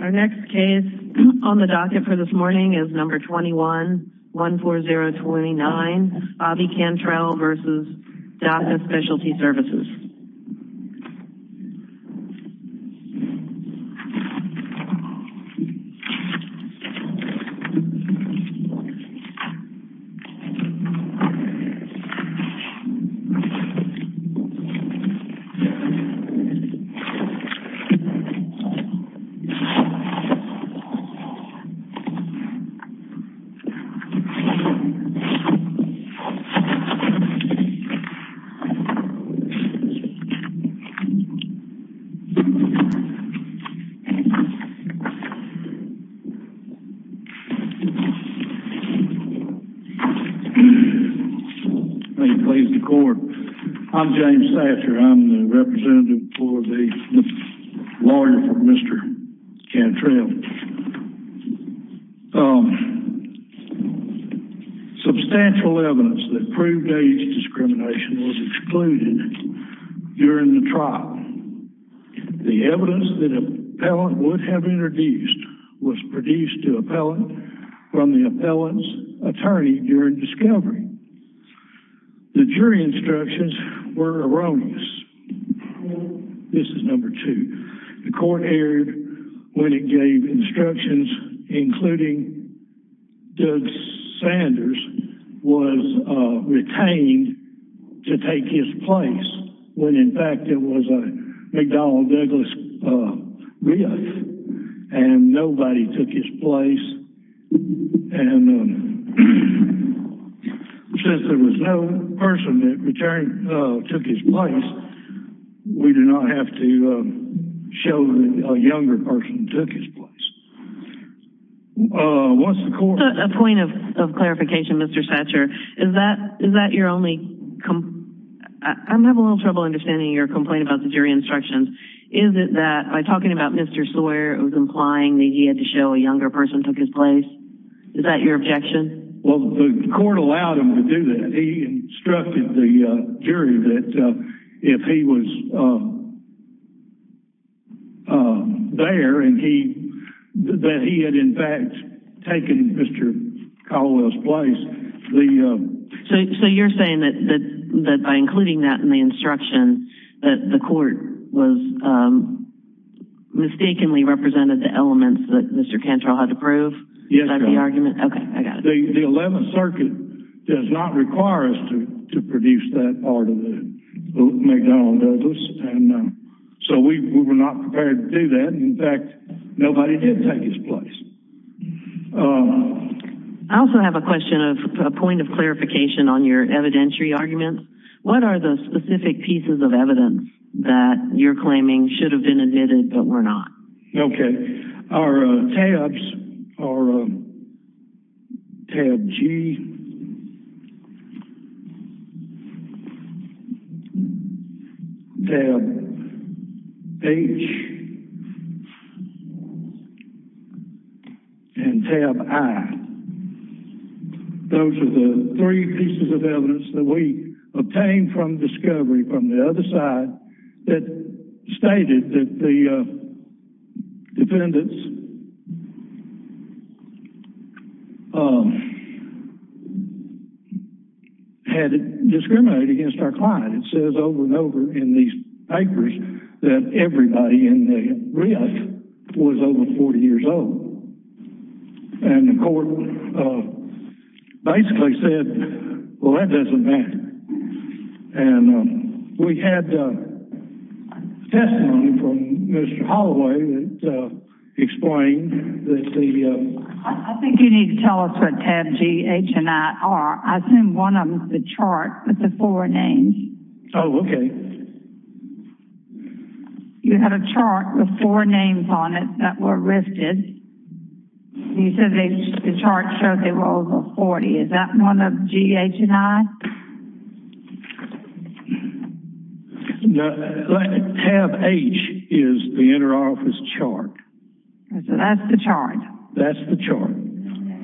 Our next case on the docket for this morning is number 21 14029 Bobby Cantrell v. Daca Specialty Services I'm James Thatcher, I'm the representative for the lawyer for Mr. Cantrell. Substantial evidence that proved age discrimination was excluded during the trial. The evidence that an appellant would have introduced was produced to an appellant from the appellant's attorney during discovery. The jury instructions were erroneous. This is number two. The court erred when it gave instructions including Doug Sanders was retained to take his place when in fact it was a McDonnell Douglas rift and nobody took his place. And since there was no person that took his place, we do not have to show that a younger person took his place. What's the court? A point of clarification Mr. Thatcher, is that your only complaint? I'm having a little trouble understanding your complaint about the jury instructions. Is it that by talking about Mr. Sawyer it was implying that he had to take his place? Is that your objection? Well the court allowed him to do that. He instructed the jury that if he was there and that he had in fact taken Mr. Caldwell's place. So you're saying that by including that in the instruction that the court was mistakenly The 11th circuit does not require us to produce that part of the McDonnell Douglas and so we were not prepared to do that. In fact, nobody did take his place. I also have a question of a point of clarification on your evidentiary argument. What are the specific pieces of Our tabs are tab G, tab H, and tab I. Those are the three pieces of evidence that we obtained from discovery from the other side that stated that the defendants had discriminated against our client. It says over and over in these papers that everybody in the rift was over 40 years old. And the court basically said, well that doesn't matter. And we had testimony from Mr. Holloway that explained that the... I think you need to tell us what tab G, H, and I are. I assume one of them is the chart with the four names. Oh, okay. You had a chart with four names on it that were rifted. You said the chart showed they were over 40. Is that one of G, H, and I? Tab H is the interoffice chart. So that's the chart. That's the chart.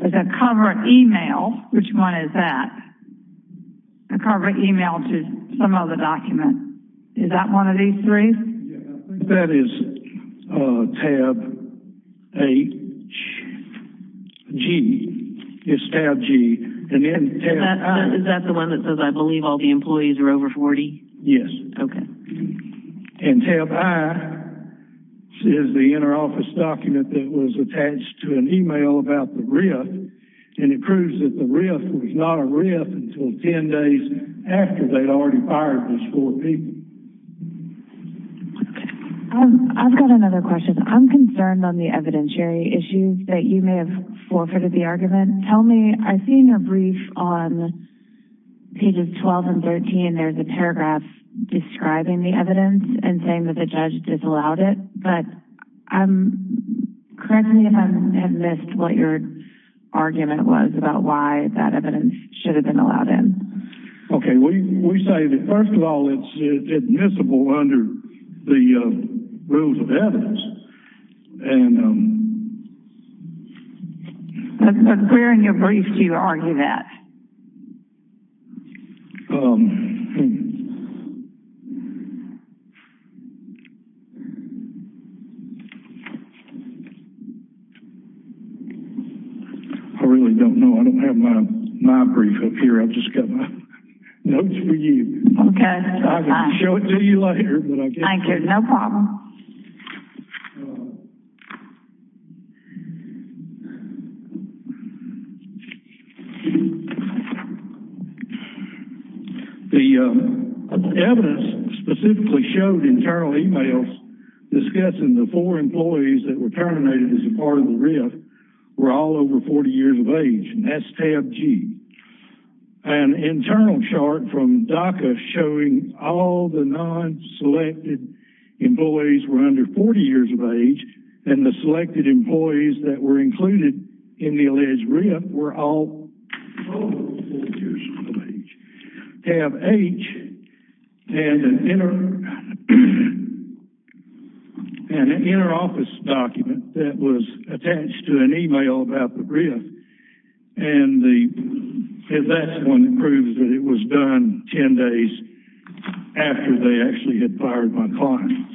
There's a cover email. Which one is that? A cover email to some other document. Is that one of these three? That is tab H, G. It's tab G. Is that the one that says I believe all the employees are over 40? Yes. Okay. And tab I is the interoffice document that was attached to an email about the rift. And it proves that the rift was not a rift until 10 days after they'd already fired those four people. I've got another question. I'm concerned on the evidentiary issues that you may have forfeited the argument. Tell me, I've seen your brief on pages 12 and 13. There's a paragraph describing the evidence and saying that the judge disallowed it. But correct me if I have missed what your argument was about why that evidence should have been allowed in. Okay. We cited it. It's admissible under the rules of evidence. But where in your brief do you argue that? I really don't know. I don't have my brief up here. I've just got my Okay. I'll show it to you later. Thank you. No problem. The evidence specifically showed internal emails discussing the four employees that were terminated as a part of the rift were all over 40 years of age. And that's tab G. An internal chart from DACA showing all the non-selected employees were under 40 years of age and the selected employees that were included in the alleged rift were all over 40 years of age. Tab H and an inner office document that was attached to an email about the rift. And at that point it proves that it was done 10 days after they actually had fired my clients.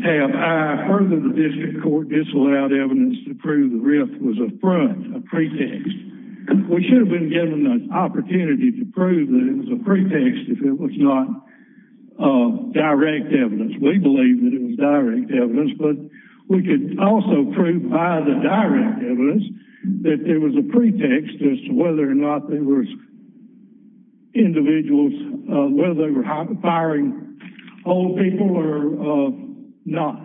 Tab I heard that the district court disallowed evidence to prove the rift was a front, a pretext. We should have been given the opportunity to prove that it was a pretext if it was not direct evidence. We believe that it was direct evidence. But we could also prove by direct evidence that there was a pretext as to whether or not they were individuals, whether they were firing old people or not.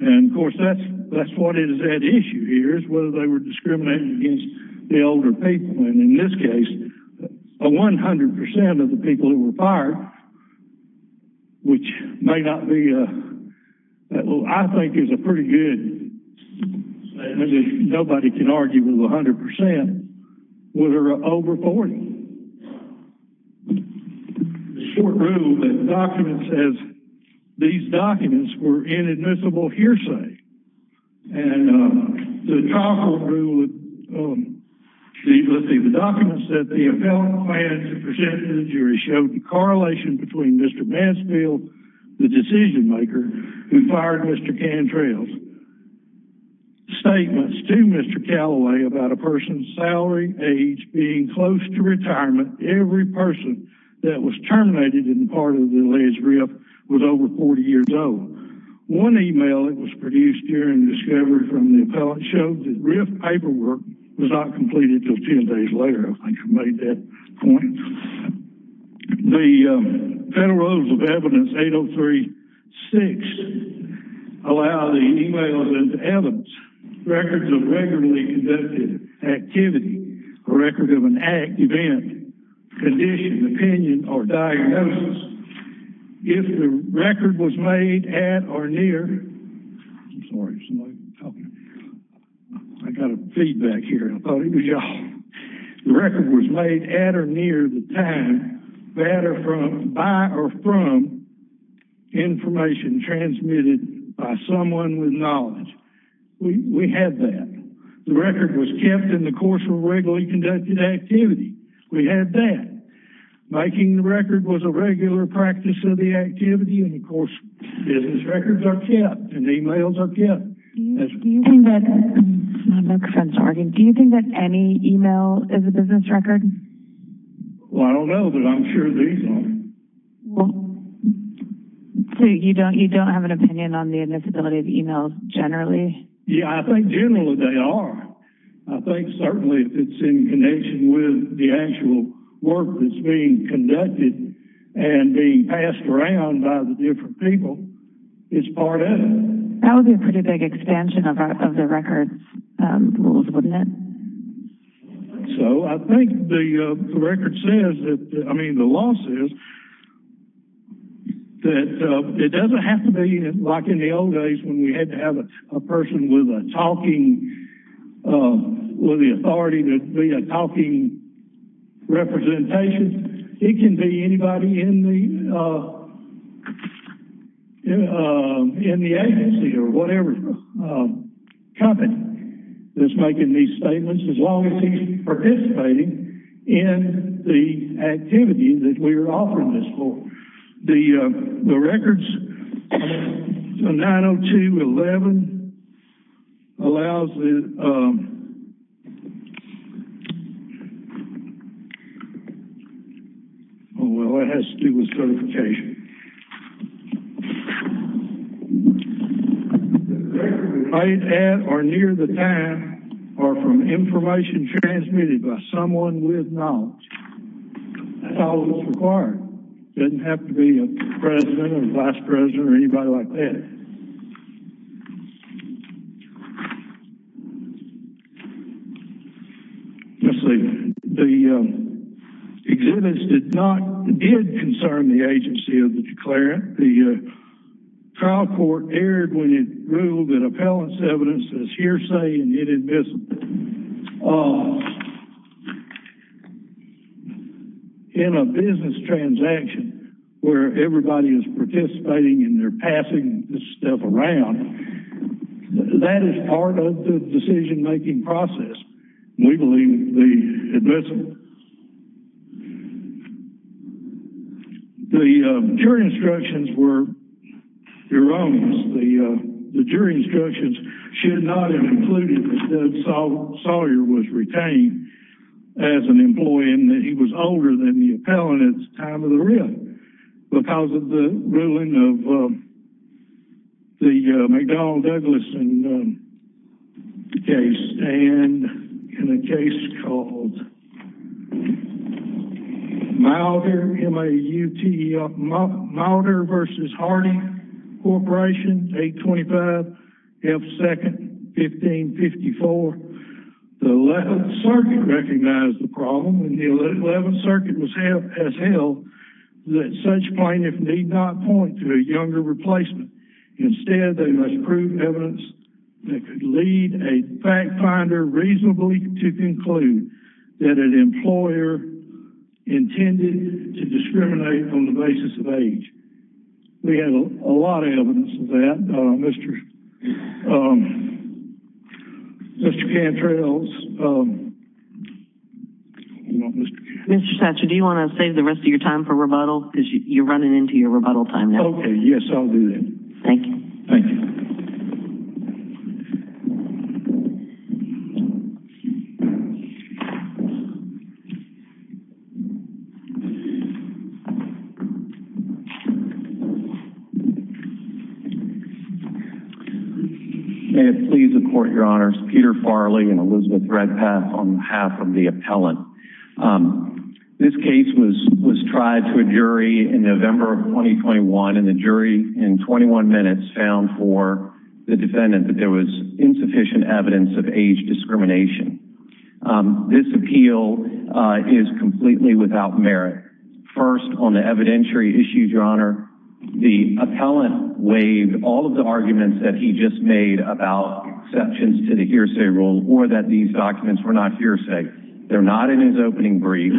And of course that's what is at issue here is whether they were discriminated against the older people. And in this case 100% of the people who were fired, which may not be, I think is a pretty good statistic, nobody can argue with 100%, were over 40. The short rule that the documents, these documents were inadmissible hearsay. And the trial court ruled, let's see, the documents that the appellant plans to present to the jury showed the correlation between Mr. Mansfield, the decision maker, who fired Mr. Cantrell. Statements to Mr. Callaway about a person's salary, age, being close to retirement, every person that was terminated in part of the alleged rift was over 40 years old. One email that was produced during the discovery from the appellant showed that rift paperwork was not completed until 10 days later. I think I made that point. The Federal Rules of Evidence 803-6 allow the emails and evidence, records of regularly conducted activity, a record of an act, event, condition, opinion, or diagnosis. If the record was made at or near, I'm sorry somebody's talking, I got a feedback here, I thought it was y'all. The record was made at or near the time by or from information transmitted by someone with knowledge. We had that. The record was kept in the course of regularly conducted activity. We had that. Making the record was a regular practice of the activity, and of course business records are kept, and emails are kept. Do you think that any email is a business record? Well, I don't know, but I'm sure these are. So you don't have an opinion on the admissibility of emails generally? Yeah, I think generally they are. I think certainly if it's in connection with the actual work that's being conducted and being passed around by the different people, it's part of it. That would be a pretty big expansion of the records rules, wouldn't it? So I think the record says, I mean the law says, that it doesn't have to be like in the old days when we had to have a person with a talking, with the authority to be a talking representation. It can be anybody in the agency or whatever company that's making these statements as long as he's participating in the activity that we're offering this for. The records, 902.11 allows the, oh well, it has to do with certification. The records made at or near the time are from information transmitted by someone with knowledge. That's all that's required. Doesn't have to be a president or vice president or anybody like that. Let's see, the exhibits did not, did concern the agency of the declarant. The trial court erred when it ruled that appellant's evidence is hearsay and inadmissible. In a business transaction where everybody is participating and they're passing this stuff around, that is part of the decision-making process. We believe the admissible. The jury instructions were erroneous. The jury instructions should not have included that Sawyer was retained as an employee and that he was older than the appellant at the time of the trial. Mauder versus Harding Corporation, 825 F 2nd, 1554. The 11th circuit recognized the problem and the 11th circuit has held that such plaintiffs need not point to a younger replacement. Instead, they must prove evidence that could lead a fact finder reasonably to conclude that an employer intended to discriminate on the basis of age. We have a lot of evidence of that, Mr. Cantrell's. Mr. Satcher, do you want to save the rest of your time for rebuttal because you're running into your rebuttal time now? Okay, yes, I'll do that. Thank you. May it please the court, your honors, Peter Farley and Elizabeth Redpath on behalf of for the defendant that there was insufficient evidence of age discrimination. This appeal is completely without merit. First, on the evidentiary issues, your honor, the appellant waived all of the arguments that he just made about exceptions to the hearsay rule or that these documents were not hearsay. They're not in his opening brief.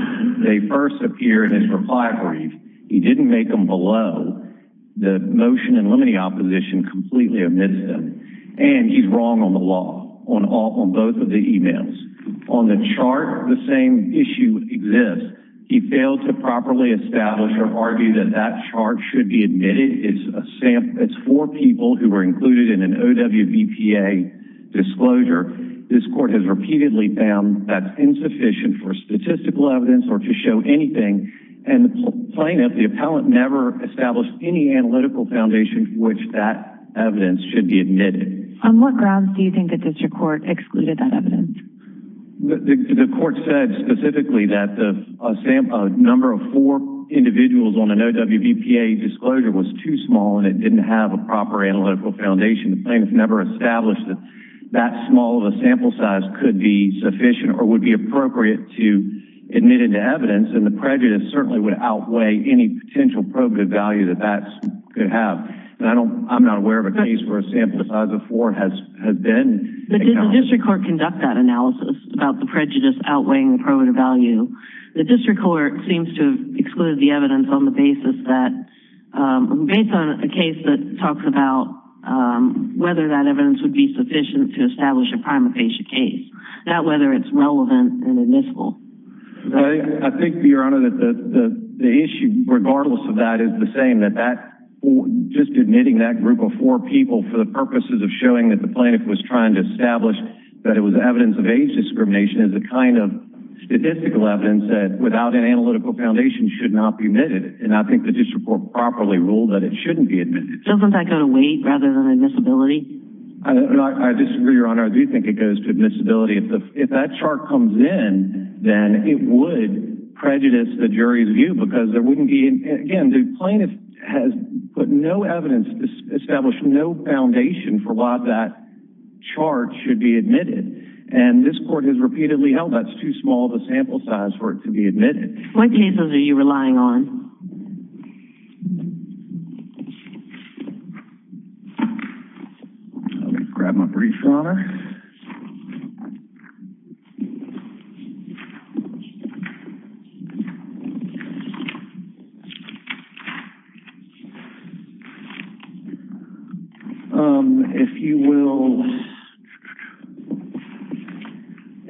They first appear in his reply brief. He didn't make them below the motion in limine opposition completely amidst them, and he's wrong on the law on both of the emails. On the chart, the same issue exists. He failed to properly establish or argue that that chart should be admitted. It's for people who were included in an OWVPA disclosure. This court has repeatedly found that's insufficient for plaintiff. The appellant never established any analytical foundation for which that evidence should be admitted. On what grounds do you think the district court excluded that evidence? The court said specifically that the number of four individuals on an OWVPA disclosure was too small, and it didn't have a proper analytical foundation. The plaintiff never established that that small of a sample size could be sufficient or would be appropriate to admit it to evidence, and the prejudice certainly would outweigh any potential probative value that that could have. I'm not aware of a case where a sample size of four has been... But did the district court conduct that analysis about the prejudice outweighing the probative value? The district court seems to have excluded the evidence on the basis that, based on a case that talks about whether that evidence would be sufficient to establish a disclosure. I think, Your Honor, that the issue, regardless of that, is the same. Just admitting that group of four people for the purposes of showing that the plaintiff was trying to establish that it was evidence of age discrimination is the kind of statistical evidence that, without an analytical foundation, should not be admitted. I think the district court properly ruled that it shouldn't be admitted. Doesn't that go to weight rather than admissibility? I disagree, Your Honor. I do think it goes to admissibility. If that chart comes in, then it would prejudice the jury's view because there wouldn't be... Again, the plaintiff has put no evidence, established no foundation for why that chart should be admitted. This court has repeatedly held that's too small of a sample size for it to be admitted. What cases are you relying on? I'm going to grab my brief, Your Honor.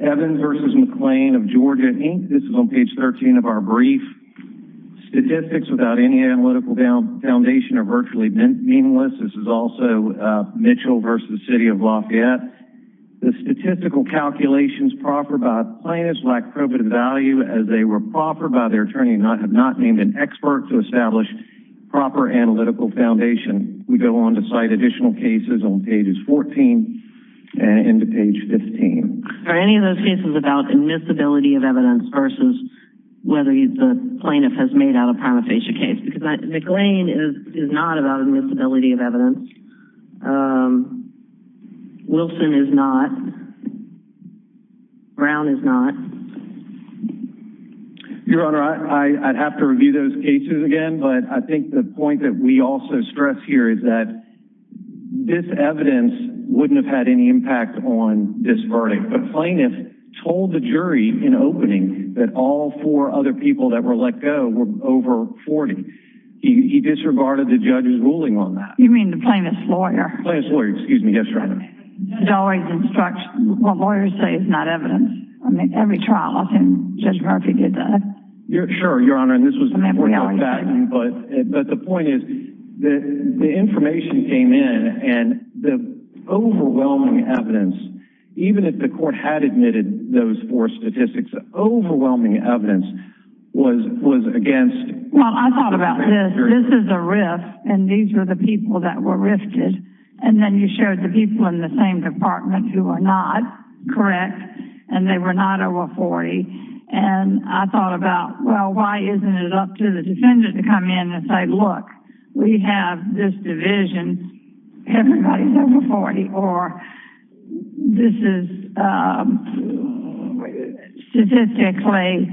Evan versus McClain of Georgia Inc. This is on page 13 of our brief. Statistics without any analytical foundation are virtually meaningless. This is also Mitchell versus the City of Lafayette. The statistical calculations proper by plaintiffs lack probative value as they were proper by their attorney and have not named an expert to establish proper analytical foundation. We go on to cite additional cases on pages 14 and into page 15. Are any of those cases about admissibility of evidence versus whether the plaintiff has made a prima facie case? McClain is not about admissibility of evidence. Wilson is not. Brown is not. Your Honor, I'd have to review those cases again, but I think the point that we also stress here is that this evidence wouldn't have had any impact on this verdict. The plaintiff told the court he disregarded the judge's ruling on that. You mean the plaintiff's lawyer? Plaintiff's lawyer, yes, Your Honor. Lawyers say it's not evidence. Every trial I've seen, Judge Murphy did that. Sure, Your Honor, but the point is that the information came in and the overwhelming evidence, even if the court had admitted those four statistics, overwhelming evidence was against. Well, I thought about this. This is a rift, and these were the people that were rifted, and then you showed the people in the same department who are not correct, and they were not over 40, and I thought about, well, why isn't it up to the defendant to come in and say, look, we have this division. Everybody's over 40, or this is statistically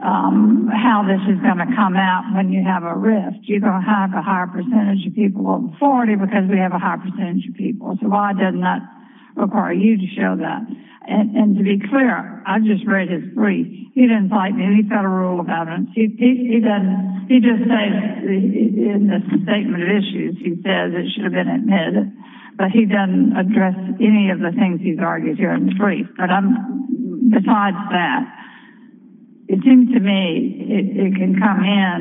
how this is going to come out when you have a rift. You're going to have a higher percentage of people over 40 because we have a higher percentage of people, so why doesn't that require you to show that? And to be clear, I just read his brief. He didn't fight me. He's got a rule about it. He just says in the statement of issues, he says it should have been admitted, but he doesn't address any of the things he's argued here in his brief, but besides that, it seems to me it can come in,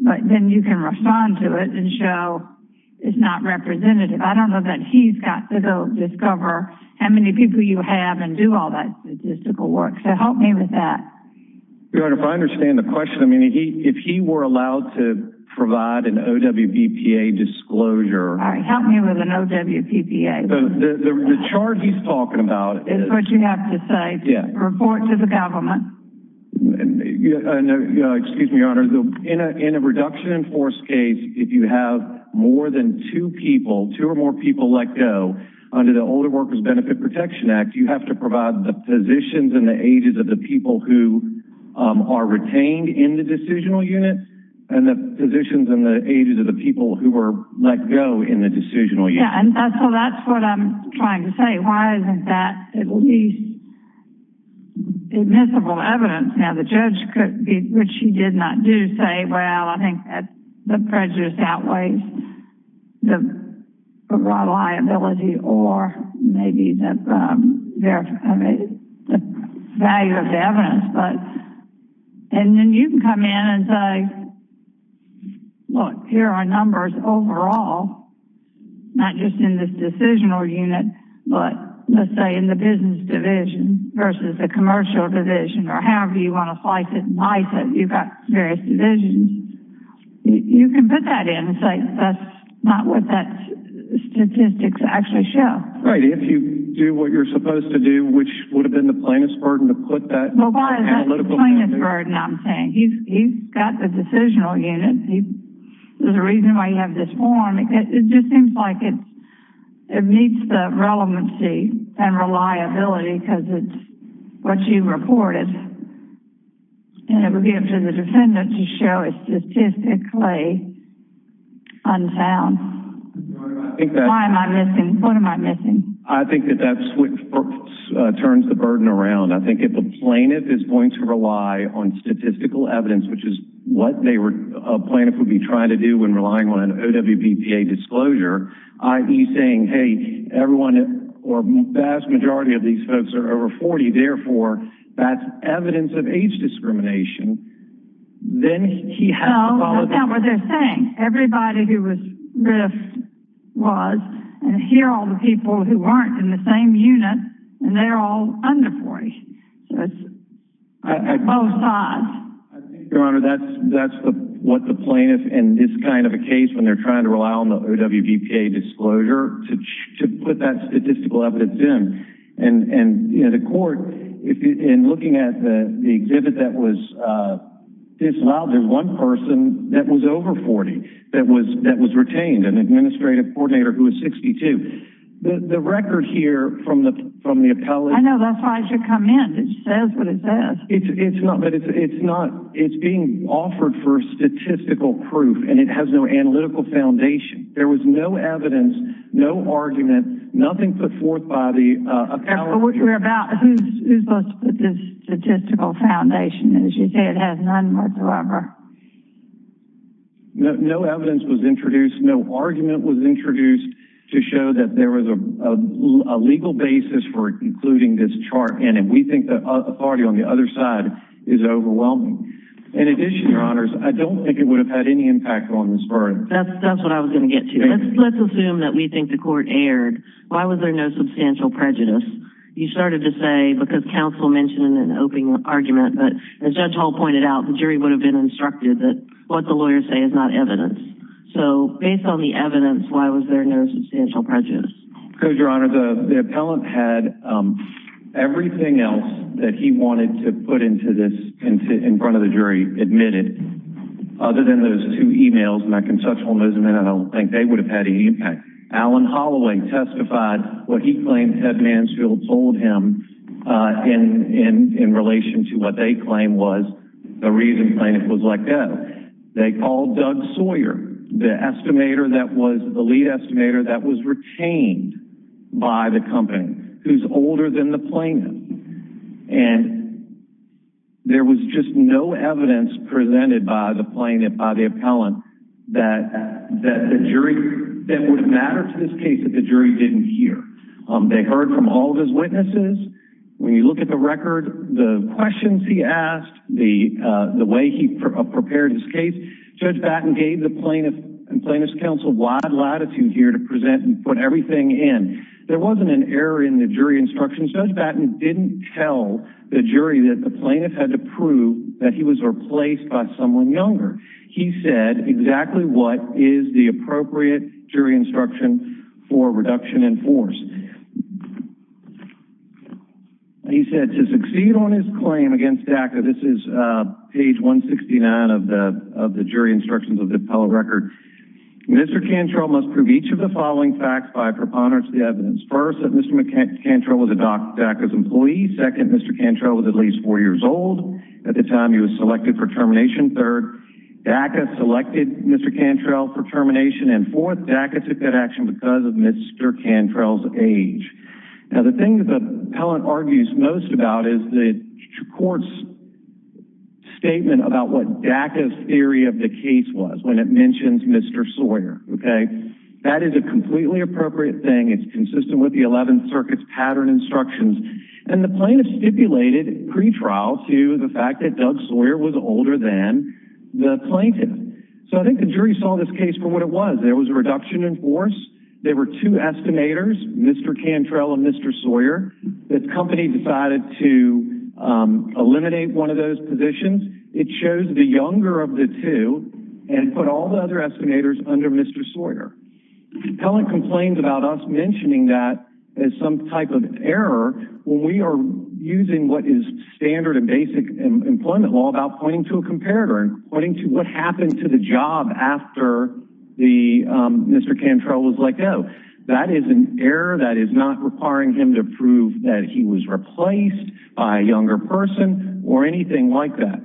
but then you can respond to it and show it's not representative. I don't know that he's got to go discover how many people you have and do all that statistical work, so help me with that. Your Honor, if I understand the question, I mean, if he were allowed to know WPPA. The charge he's talking about is what you have to say. Yeah. Report to the government. Excuse me, Your Honor. In a reduction in force case, if you have more than two people, two or more people let go under the Older Workers Benefit Protection Act, you have to provide the positions and the ages of the people who are retained in the decisional unit and the positions and the ages of the people who were let go in the decisional unit. Yeah, so that's what I'm trying to say. Why isn't that at least admissible evidence? Now, the judge could be, which he did not do, say, well, I think that the prejudice outweighs the reliability or maybe the value of what here are numbers overall, not just in this decisional unit, but let's say in the business division versus the commercial division or however you want to slice it and dice it. You've got various divisions. You can put that in and say that's not what that statistics actually show. Right. If you do what you're supposed to do, which would have been the plainest burden to put that in. Well, why is that the plainest burden I'm saying? He's got the decisional unit. There's a reason why you have this form. It just seems like it meets the relevancy and reliability because it's what you reported and it would give to the defendant to show it's statistically unsound. Why am I missing? What am I missing? I think that that's what turns the burden around. I think if a plaintiff is going to rely on statistical evidence, which is what a plaintiff would be trying to do when relying on an OWBPA disclosure, i.e. saying, hey, everyone or vast majority of these folks are over 40, therefore that's evidence of age discrimination, then he has to apologize. No, no count what they're saying. Everybody who was was and here are all the people who aren't in the same unit and they're all under 40. I think, Your Honor, that's what the plaintiff in this kind of a case when they're trying to rely on the OWBPA disclosure to put that statistical evidence in. The court, in looking at the exhibit that was disallowed, there's one person that was over 40 that was retained, an administrative coordinator who was 62. The record here from the appellate... I know, that's why I should come in. It says what it says. It's being offered for statistical proof and it has no analytical foundation. There was no evidence, no argument, nothing put forth by the appellate. What you're about, who's supposed to put this statistical foundation? As you say, it has none whatsoever. No evidence was introduced, no argument was introduced to show that there was a legal basis for including this chart in and we think the authority on the other side is overwhelming. In addition, Your Honors, I don't think it would have had any impact on this verdict. That's what I was going to get to. Let's assume that the court erred. Why was there no substantial prejudice? You started to say because counsel mentioned an open argument, but as Judge Hall pointed out, the jury would have been instructed that what the lawyers say is not evidence. Based on the evidence, why was there no substantial prejudice? Because, Your Honor, the appellate had everything else that he wanted to put in front of the jury admitted, other than those two emails and I don't think they would have had any impact. Alan Holloway testified what he claimed Ted Mansfield told him in relation to what they claim was the reason Plaintiff was let go. They called Doug Sawyer, the lead estimator that was retained by the company, who's older than the that the jury didn't hear. They heard from all of his witnesses. When you look at the record, the questions he asked, the way he prepared his case, Judge Batten gave the plaintiff and plaintiff's counsel wide latitude here to present and put everything in. There wasn't an error in the jury instructions. Judge Batten didn't tell the jury that the plaintiff had to prove that he was replaced by someone younger. He said exactly what is the appropriate jury instruction for reduction in force. He said to succeed on his claim against DACA, this is page 169 of the jury instructions of the appellate record, Mr. Cantrell must prove each of the following facts by preponderance of the evidence. First, that Mr. Cantrell was a DACA's employee. Second, Mr. Cantrell was selected for termination. Third, DACA selected Mr. Cantrell for termination. And fourth, DACA took that action because of Mr. Cantrell's age. Now the thing that the appellant argues most about is the court's statement about what DACA's theory of the case was when it mentions Mr. Sawyer. Okay, that is a completely appropriate thing. It's consistent with the 11th Circuit's instructions. And the plaintiff stipulated at pretrial to the fact that Doug Sawyer was older than the plaintiff. So I think the jury saw this case for what it was. There was a reduction in force. There were two estimators, Mr. Cantrell and Mr. Sawyer. The company decided to eliminate one of those positions. It chose the younger of the two and put all the other estimators under Mr. Sawyer. The appellant complained about us mentioning that as some type of error when we are using what is standard and basic employment law about pointing to a comparator and pointing to what happened to the job after Mr. Cantrell was let go. That is an error that is not requiring him to prove that he was replaced by a younger person or anything like that.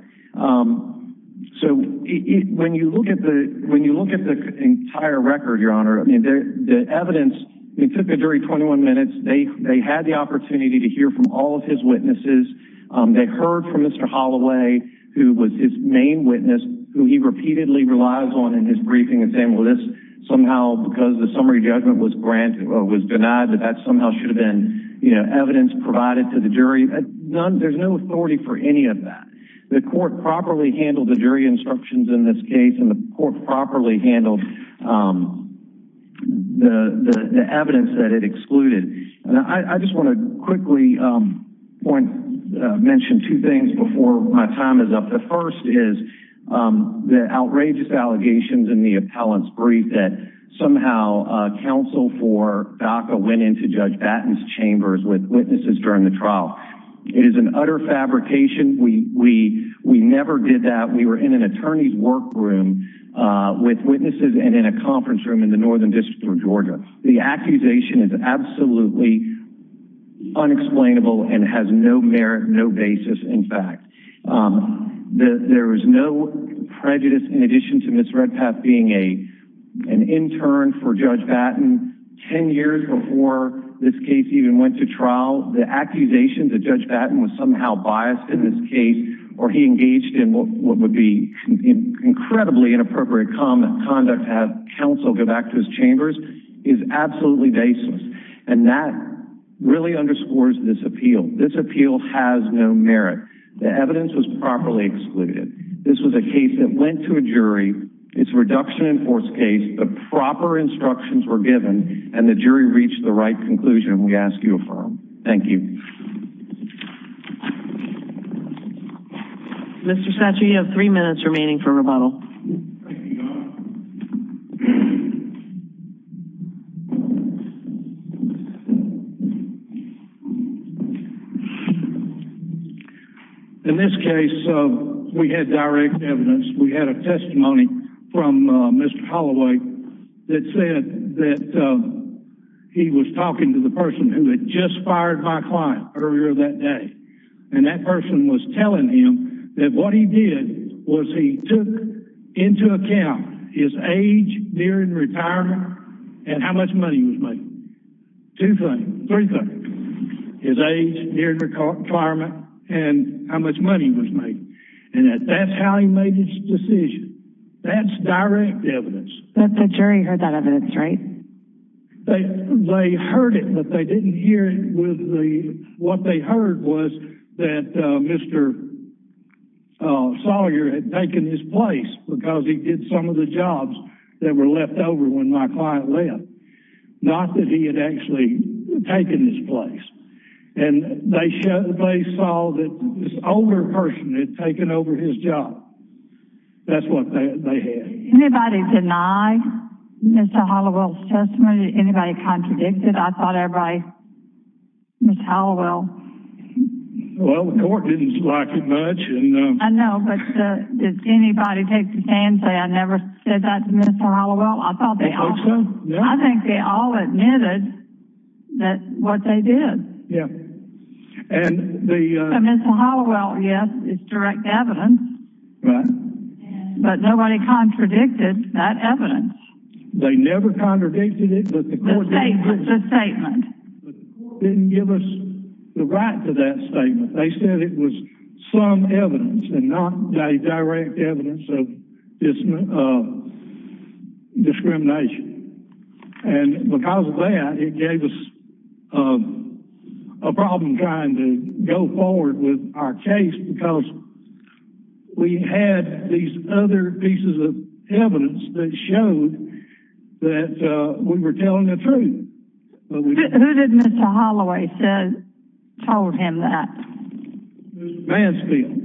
So when you look at the entire record, Your Honor, the evidence, it took the jury 21 minutes. They had the opportunity to hear from all of his witnesses. They heard from Mr. Holloway, who was his main witness, who he repeatedly relies on in his briefing and saying, well, this somehow because the summary judgment was denied that that somehow should have been evidence provided to the jury. There's no authority for any of that. The court properly handled the jury instructions in this court. The court properly handled the evidence that it excluded. I just want to quickly mention two things before my time is up. The first is the outrageous allegations in the appellant's brief that somehow counsel for DACA went into Judge Batten's chambers with witnesses during the trial. It is an utter fabrication. We never did that. We were in an attorney's workroom with witnesses and in a conference room in the Northern District of Georgia. The accusation is absolutely unexplainable and has no merit, no basis, in fact. There is no prejudice in addition to Ms. Redpath being an intern for Judge Batten 10 years before this case even went to trial. The accusation that Judge Batten was somehow biased in this case or he engaged in what would be incredibly inappropriate conduct to have counsel go back to his chambers is absolutely baseless and that really underscores this appeal. This appeal has no merit. The evidence was properly excluded. This was a case that went to a jury. It's a reduction in force case. The proper instructions were given and the jury reached the right Mr. Satcher, you have three minutes remaining for rebuttal. In this case, we had direct evidence. We had a testimony from Mr. Holloway that said that he was talking to the person who had just fired my client earlier that day and that person was that what he did was he took into account his age during retirement and how much money was made. Two things. Three things. His age during retirement and how much money was made and that's how he made his decision. That's direct evidence. But the jury heard that evidence, right? They heard it but they didn't hear what they heard was that Mr. Sawyer had taken his place because he did some of the jobs that were left over when my client left. Not that he had actually taken his place and they saw that this older person had taken over his job. That's what they did. Did anybody deny Mr. Holloway's testimony? Did anybody contradict it? I thought everybody Mr. Holloway. Well, the court didn't like it much. I know but did anybody take the stand and say I never said that to Mr. Holloway? I thought they all did. I think they all admitted that what they did. Mr. Holloway, yes, it's direct evidence but nobody contradicted that evidence. They never contradicted it but the court didn't give us the right to that statement. They said it was some evidence and not a direct evidence of discrimination and because of that it gave us a problem trying to go forward with our case because we had these other pieces of evidence that showed that we were telling the truth. Who did Mr. Holloway told him that? Mansfield.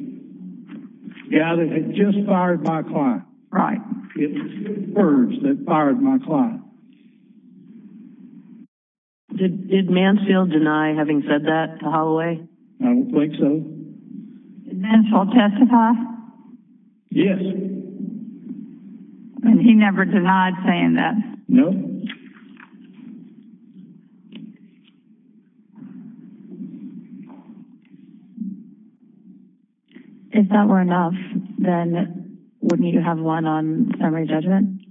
The guy that had just fired my client. Right. It was Burns that fired my client. Did Mansfield deny having said that to Holloway? I don't think so. Did Mansfield testify? Yes. And he never denied saying that? No. If that were enough then wouldn't you have won on summary judgment?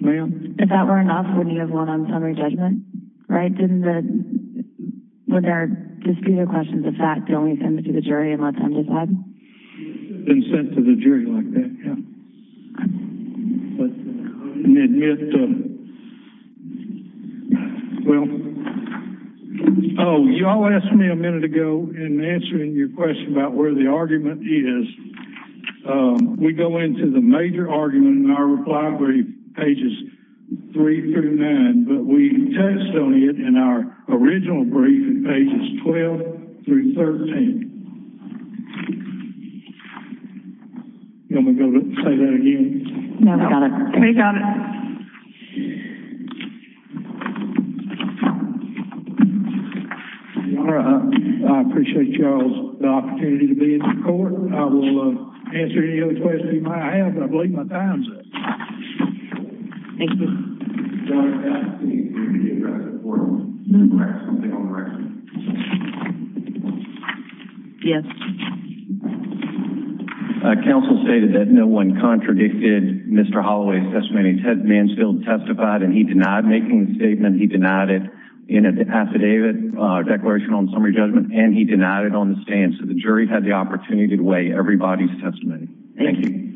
Ma'am? If that were enough wouldn't you have won on summary judgment? Would there be a disputed question of the fact that he only sent it to the jury and let them decide? It would have been sent to the jury like that, yes. Oh, you all asked me a minute ago in answering your question about where the argument is. We go into the major argument in our reply brief, pages three through nine, but we test on it in our original brief at pages 12 through 13. You want me to go say that again? No, we got it. All right, I appreciate y'all's opportunity to be in the court. I will answer any other questions you might have, but I believe my time's up. Thank you. John, did you have anything to give back to the court? Yes. Counsel stated that no one contradicted Mr. Holloway's testimony. Mansfield testified and he denied making the statement, he denied it in an affidavit declaration on summary judgment, and he denied it on the stand. So the jury had the opportunity to weigh everybody's testimony. Thank you.